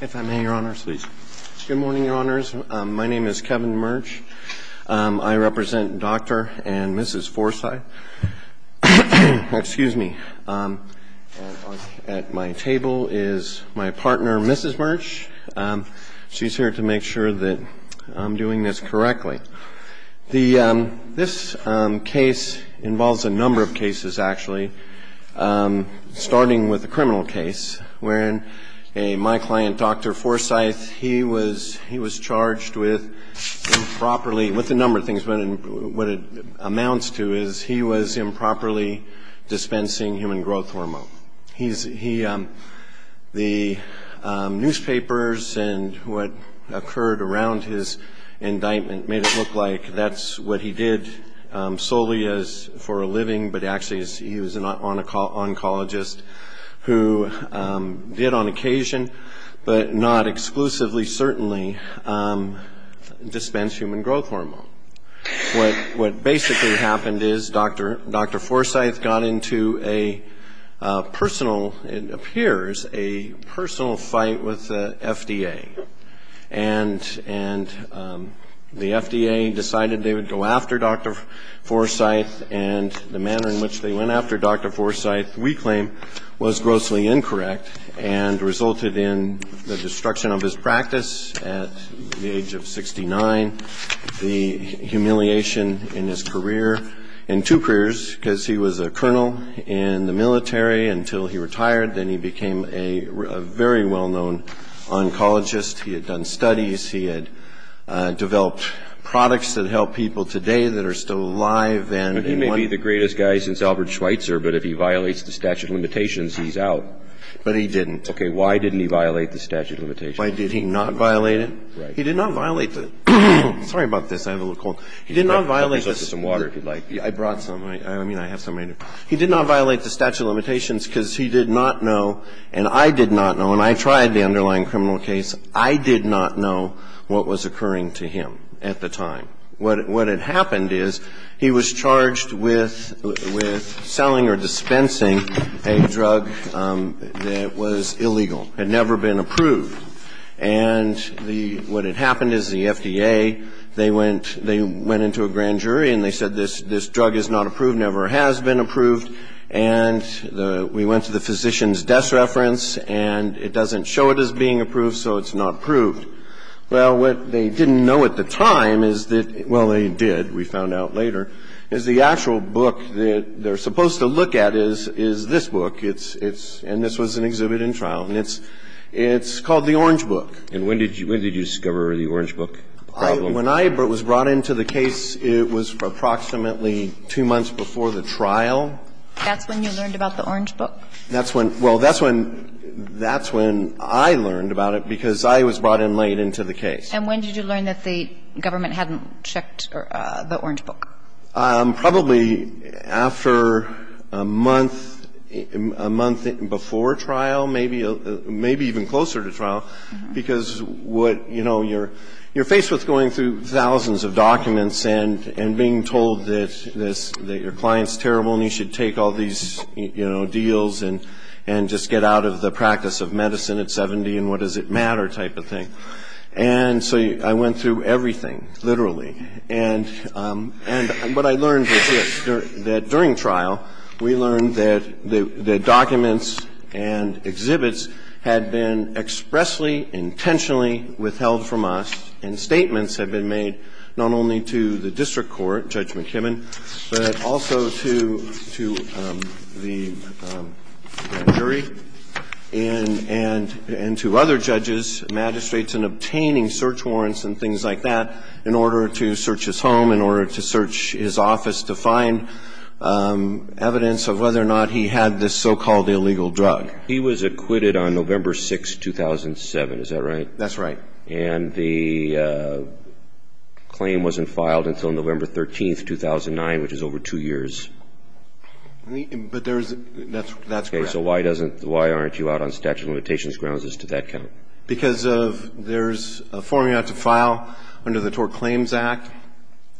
If I may, Your Honors. Please. Good morning, Your Honors. My name is Kevin Murch. I represent Dr. and Mrs. Forsythe. Excuse me. At my table is my partner, Mrs. Murch. She's here to make sure that I'm doing this correctly. This case involves a number of cases, actually, starting with the criminal case, wherein my client, Dr. Forsythe, he was charged with improperly with a number of things, but what it amounts to is he was improperly dispensing human growth hormone. The newspapers and what occurred around his indictment made it look like that's what he did solely for a living, but actually he was an oncologist who did on occasion, but not exclusively, certainly, dispense human growth hormone. What basically happened is Dr. Forsythe got into a personal, it appears, a personal fight with the FDA, and the FDA decided they would go after Dr. Forsythe, and the manner in which they went after Dr. Forsythe, we claim, was grossly incorrect and resulted in the destruction of his practice at the age of 69, the humiliation in his career, and two careers, because he was a colonel in the military until he retired, then he became a very well-known oncologist. He had done studies. He had developed products that help people today that are still alive. And he may be the greatest guy since Albert Schweitzer, but if he violates the statute of limitations, he's out. But he didn't. Okay. Why didn't he violate the statute of limitations? Why did he not violate it? Right. He did not violate the ‑‑ sorry about this. I have a little cold. He did not violate the ‑‑ I'll get you some water, if you'd like. I brought some. I mean, I have some right here. He did not violate the statute of limitations because he did not know, and I did not know, and I tried the underlying criminal case, I did not know what was occurring to him at the time. What had happened is he was charged with selling or dispensing a drug that was illegal, had never been approved. And what had happened is the FDA, they went into a grand jury and they said this drug is not approved, never has been approved, and we went to the physician's desk reference, and it doesn't show it as being approved, so it's not proved. Well, what they didn't know at the time is that ‑‑ well, they did. We found out later. Is the actual book that they're supposed to look at is this book. It's ‑‑ and this was an exhibit in trial. And it's called the Orange Book. And when did you discover the Orange Book problem? When I was brought into the case, it was approximately two months before the trial. That's when you learned about the Orange Book? That's when ‑‑ well, that's when I learned about it, because I was brought in late into the case. And when did you learn that the government hadn't checked the Orange Book? Probably after a month, a month before trial, maybe even closer to trial, because you're faced with going through thousands of documents and being told that your client's terrible and you should take all these deals and just get out of the practice of medicine at 70 and what does it matter type of thing. And so I went through everything, literally. And what I learned was this, that during trial, we learned that the documents and exhibits had been expressly, intentionally withheld from us and statements had been made not only to the district court, Judge McKibbin, but also to the jury and to other judges, magistrates, in obtaining search warrants and things like that in order to search his home, in order to search his office to find evidence of whether or not he had this so‑called illegal drug. He was acquitted on November 6, 2007, is that right? That's right. And the claim wasn't filed until November 13, 2009, which is over two years. But there's ‑‑ that's correct. Okay, so why doesn't ‑‑ why aren't you out on statute of limitations grounds? Does that count? Because of there's a formula to file under the Tort Claims Act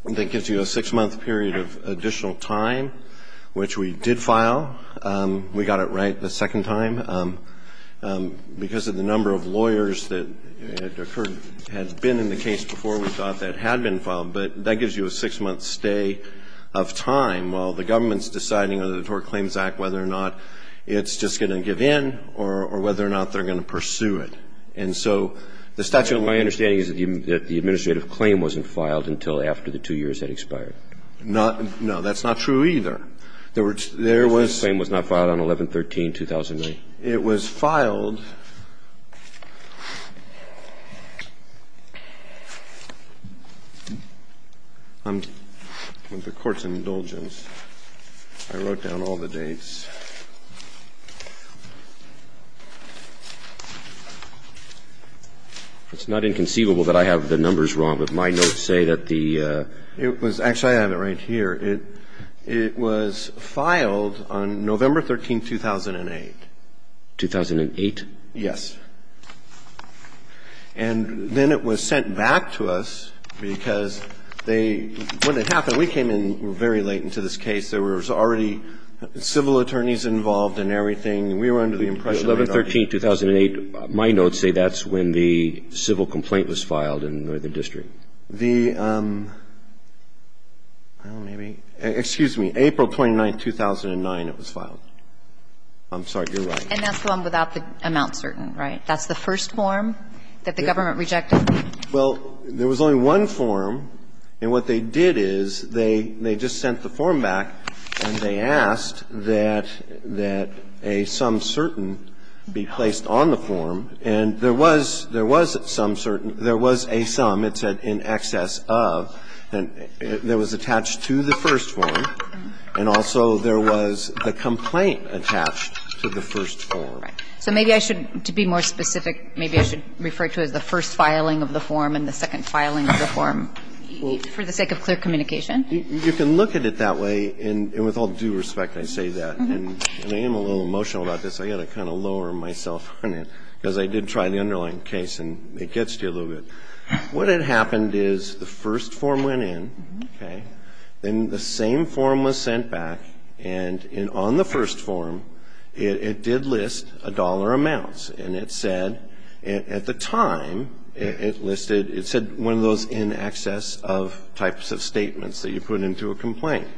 that gives you a six‑month period of additional time, which we did file. We got it right the second time. Because of the number of lawyers that had occurred, had been in the case before, we thought that had been filed. But that gives you a six‑month stay of time while the government's deciding under the Tort Claims Act whether or not it's just going to give in or whether or not they're going to pursue it. And so the statute of ‑‑ My understanding is that the administrative claim wasn't filed until after the two years had expired. Not ‑‑ no, that's not true either. There was ‑‑ The administrative claim was not filed on 11‑13, 2009. It was filed on the court's indulgence. I wrote down all the dates. It's not inconceivable that I have the numbers wrong, but my notes say that the ‑‑ Actually, I have it right here. It was filed on November 13, 2008. 2008? Yes. And then it was sent back to us because they ‑‑ when it happened, we came in very late into this case. There was already civil attorneys involved and everything. We were under the impression that ‑‑ 11‑13, 2008, my notes say that's when the civil complaint was filed in Northern District. The ‑‑ well, maybe ‑‑ excuse me. April 29, 2009, it was filed. I'm sorry. You're right. And that's the one without the amount certain, right? That's the first form that the government rejected? Well, there was only one form. And what they did is they just sent the form back and they asked that a sum certain be placed on the form. And there was a sum. There was a sum, it said, in excess of, that was attached to the first form. And also there was the complaint attached to the first form. Right. So maybe I should, to be more specific, maybe I should refer to it as the first filing of the form and the second filing of the form for the sake of clear communication? You can look at it that way. And with all due respect, I say that. And I am a little emotional about this. I got to kind of lower myself on it because I did try the underlying case and it gets to you a little bit. What had happened is the first form went in, okay? Then the same form was sent back. And on the first form, it did list a dollar amounts. And it said, at the time, it listed, it said one of those in excess of types of statements that you put into a complaint.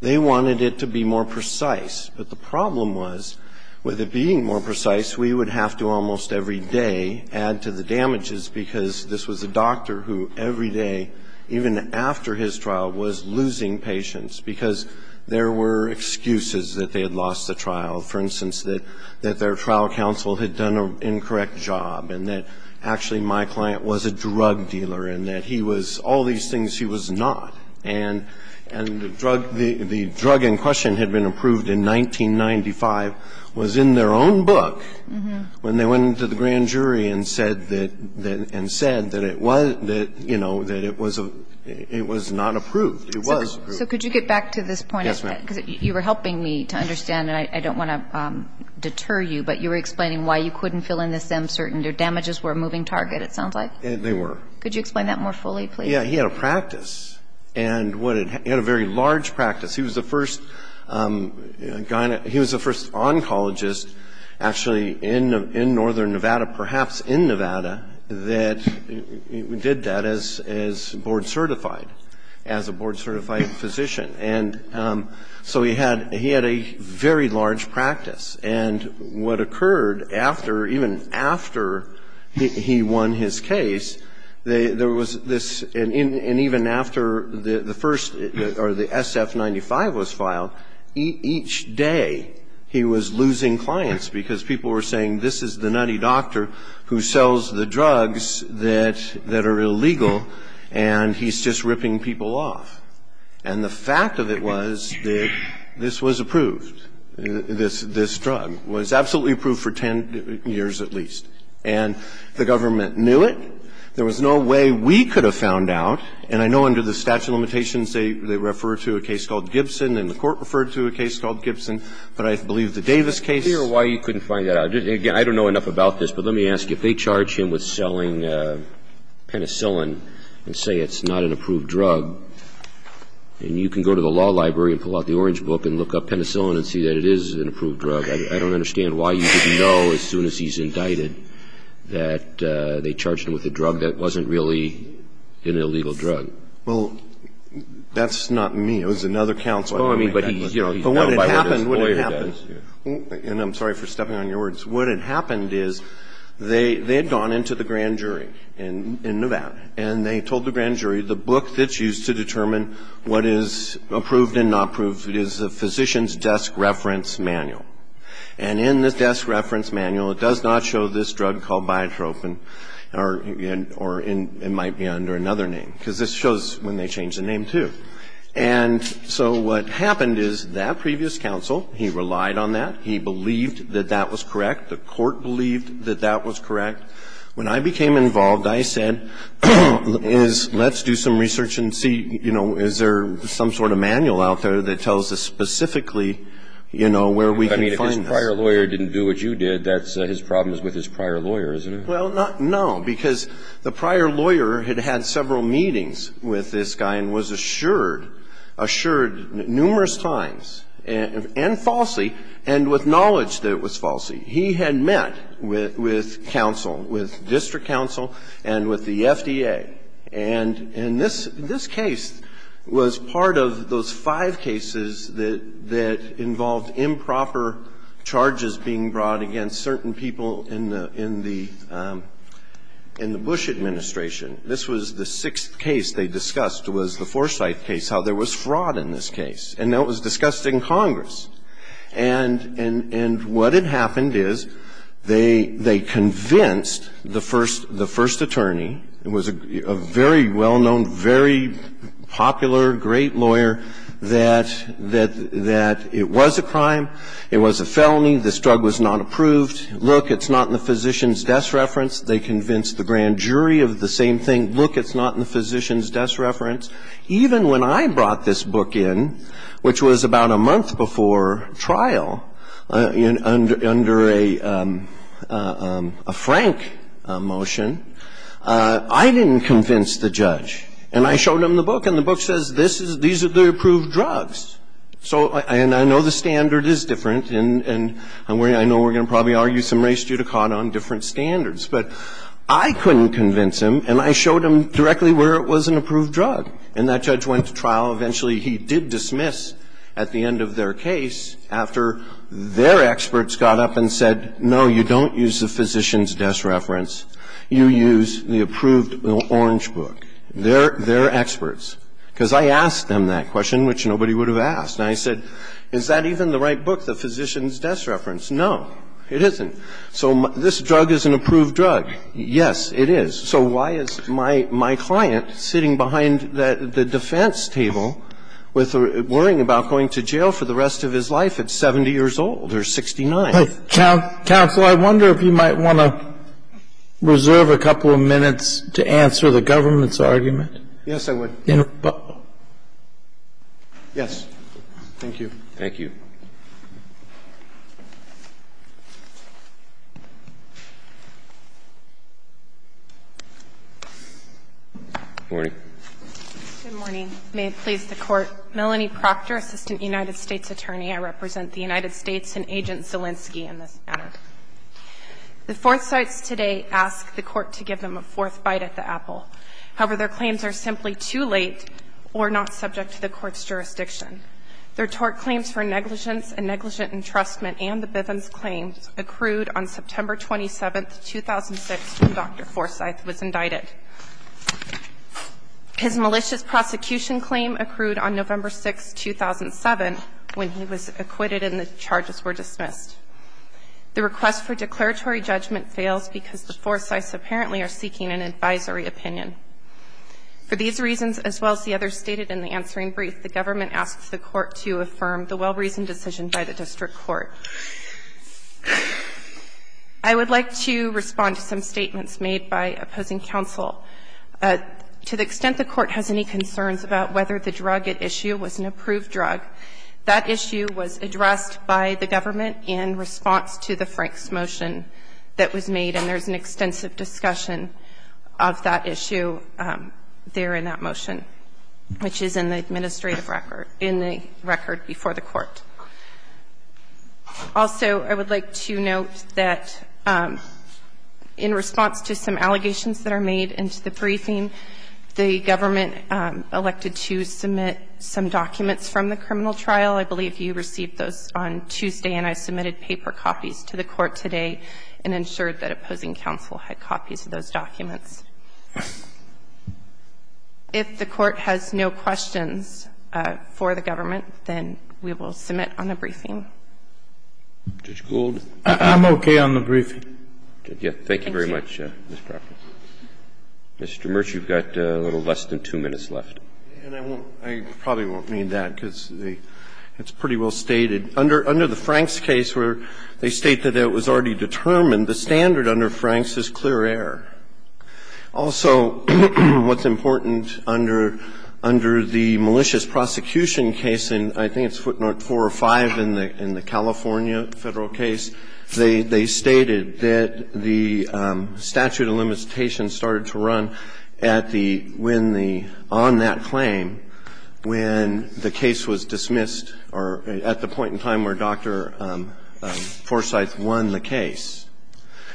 They wanted it to be more precise. But the problem was, with it being more precise, we would have to almost every day add to the damages because this was a doctor who every day, even after his trial, was losing patients because there were excuses that they had lost the trial. For instance, that their trial counsel had done an incorrect job and that actually my client was a drug dealer and that he was all these things he was not. And the drug in question had been approved in 1995, was in their own book, when they went into the grand jury and said that it was, you know, that it was not approved. It was approved. So could you get back to this point? Yes, ma'am. Because you were helping me to understand, and I don't want to deter you, but you were explaining why you couldn't fill in this M, certain damages were a moving target, it sounds like. They were. Could you explain that more fully, please? Yeah. He had a practice. He had a very large practice. He was the first oncologist, actually, in northern Nevada, perhaps in Nevada, that did that as board certified, as a board certified physician. And so he had a very large practice. And what occurred after, even after he won his case, there was this, and even after the first, or the SF-95 was filed, each day he was losing clients because people were saying this is the nutty doctor who sells the drugs that are illegal and he's just ripping people off. And the fact of it was that this was approved. This drug was absolutely approved for 10 years at least. And the government knew it. There was no way we could have found out. And I know under the statute of limitations they refer to a case called Gibson and the Court referred to a case called Gibson, but I believe the Davis case. I'm not sure why you couldn't find that out. Again, I don't know enough about this, but let me ask you. If they charge him with selling Penicillin and say it's not an approved drug, and you can go to the law library and pull out the orange book and look up Penicillin and see that it is an approved drug. I don't understand why you didn't know as soon as he's indicted that they charged him with a drug that wasn't really an illegal drug. Well, that's not me. It was another counsel. Oh, I mean, but he's known by what his lawyer does. And I'm sorry for stepping on your words. What had happened is they had gone into the grand jury in Nevada and they told the jury to determine what is approved and not approved is the physician's desk reference manual. And in the desk reference manual it does not show this drug called biotropin or it might be under another name, because this shows when they change the name, too. And so what happened is that previous counsel, he relied on that. He believed that that was correct. The Court believed that that was correct. When I became involved, I said, let's do some research and see, you know, is there some sort of manual out there that tells us specifically, you know, where we can find this. I mean, if his prior lawyer didn't do what you did, his problem is with his prior lawyer, isn't it? Well, no. Because the prior lawyer had had several meetings with this guy and was assured numerous times and falsely and with knowledge that it was falsely. And he had met with counsel, with district counsel and with the FDA. And this case was part of those five cases that involved improper charges being brought against certain people in the Bush administration. This was the sixth case they discussed was the Forsyth case, how there was fraud in this case. And that was discussed in Congress. And what had happened is they convinced the first attorney, who was a very well-known, very popular, great lawyer, that it was a crime, it was a felony, this drug was not approved. Look, it's not in the physician's desk reference. They convinced the grand jury of the same thing. Look, it's not in the physician's desk reference. Even when I brought this book in, which was about a month before trial, under a Frank motion, I didn't convince the judge. And I showed him the book. And the book says this is the approved drugs. And I know the standard is different. And I know we're going to probably argue some race judicata on different standards. But I couldn't convince him. And I showed him directly where it was an approved drug. And that judge went to trial. Eventually, he did dismiss at the end of their case, after their experts got up and said, no, you don't use the physician's desk reference. You use the approved orange book. They're experts. Because I asked them that question, which nobody would have asked. And I said, is that even the right book, the physician's desk reference? No, it isn't. So this drug is an approved drug. Yes, it is. So why is my client sitting behind the defense table worrying about going to jail for the rest of his life at 70 years old or 69? Counsel, I wonder if you might want to reserve a couple of minutes to answer the government's argument. Yes, I would. Yes. Thank you. Thank you. Good morning. Good morning. May it please the Court. Melanie Proctor, Assistant United States Attorney. I represent the United States and Agent Zielinski in this matter. The Fourth Cites today ask the Court to give them a fourth bite at the apple. However, their claims are simply too late or not subject to the Court's jurisdiction. Their tort claims for negligence and negligent entrustment and the Bivens claims accrued on September 27, 2006, when Dr. Forsythe was indicted. His malicious prosecution claim accrued on November 6, 2007, when he was acquitted and the charges were dismissed. The request for declaratory judgment fails because the Forsythes apparently are seeking an advisory opinion. For these reasons, as well as the others stated in the answering brief, the government asks the Court to affirm the well-reasoned decision by the district court. I would like to respond to some statements made by opposing counsel. To the extent the Court has any concerns about whether the drug at issue was an approved drug, that issue was addressed by the government in response to the Franks motion that was made, and there's an extensive discussion of that issue. There in that motion, which is in the administrative record, in the record before the Court. Also, I would like to note that in response to some allegations that are made into the briefing, the government elected to submit some documents from the criminal trial. I believe you received those on Tuesday, and I submitted paper copies to the Court today, and ensured that opposing counsel had copies of those documents. If the Court has no questions for the government, then we will submit on the briefing. I'm okay on the briefing. Thank you. Thank you very much, Ms. Crawford. Mr. Merch, you've got a little less than two minutes left. I probably won't need that, because it's pretty well stated. Under the Franks case, where they state that it was already determined, the standard under Franks is clear error. Also, what's important under the malicious prosecution case, and I think it's foot north 4 or 5 in the California Federal case, they stated that the statute of limitations started to run at the, when the, on that claim, when the case was dismissed or at the point in time where Dr. Forsyth won the case.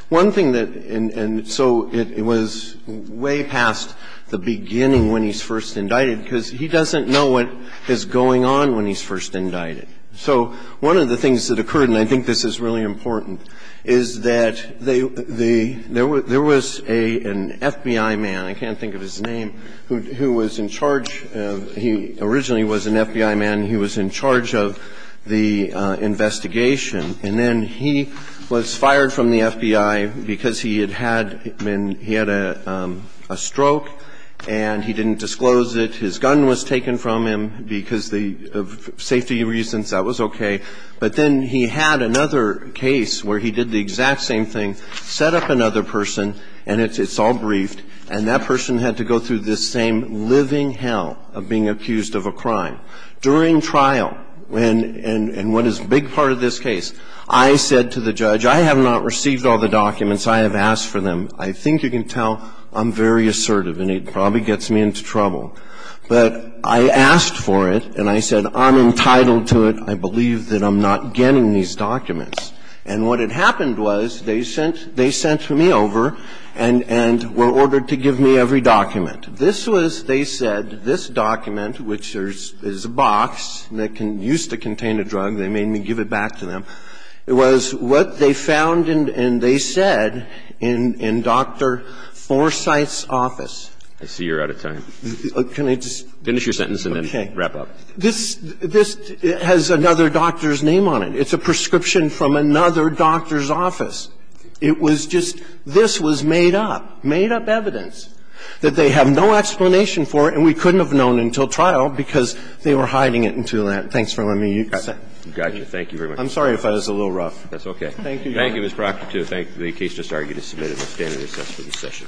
One thing that, and so it was way past the beginning when he's first indicted, because he doesn't know what is going on when he's first indicted. So one of the things that occurred, and I think this is really important, is that the, there was a, an FBI man, I can't think of his name, who was in charge of, he originally was an FBI man. He was in charge of the investigation. And then he was fired from the FBI because he had had, he had a stroke and he didn't disclose it. His gun was taken from him because of safety reasons. That was okay. But then he had another case where he did the exact same thing, set up another person, and it's all briefed. And that person had to go through this same living hell of being accused of a crime. During trial, and, and what is a big part of this case, I said to the judge, I have not received all the documents. I have asked for them. I think you can tell I'm very assertive, and it probably gets me into trouble. But I asked for it, and I said, I'm entitled to it. I believe that I'm not getting these documents. And what had happened was they sent, they sent me over and, and were ordered to give me every document. This was, they said, this document, which is a box that used to contain a drug. They made me give it back to them. It was what they found and they said in, in Dr. Forsythe's office. I see you're out of time. Can I just? Finish your sentence and then wrap up. Okay. This, this has another doctor's name on it. It's a prescription from another doctor's office. It was just, this was made up, made up evidence that they have no explanation for, and we couldn't have known until trial because they were hiding it in Tulane. Thanks for letting me use that. Got you. Thank you very much. I'm sorry if I was a little rough. That's okay. Thank you, Your Honor. Thank you, Ms. Proctor, too. Thank you. The case just argued is submitted as standard assessed for this session. Thank you.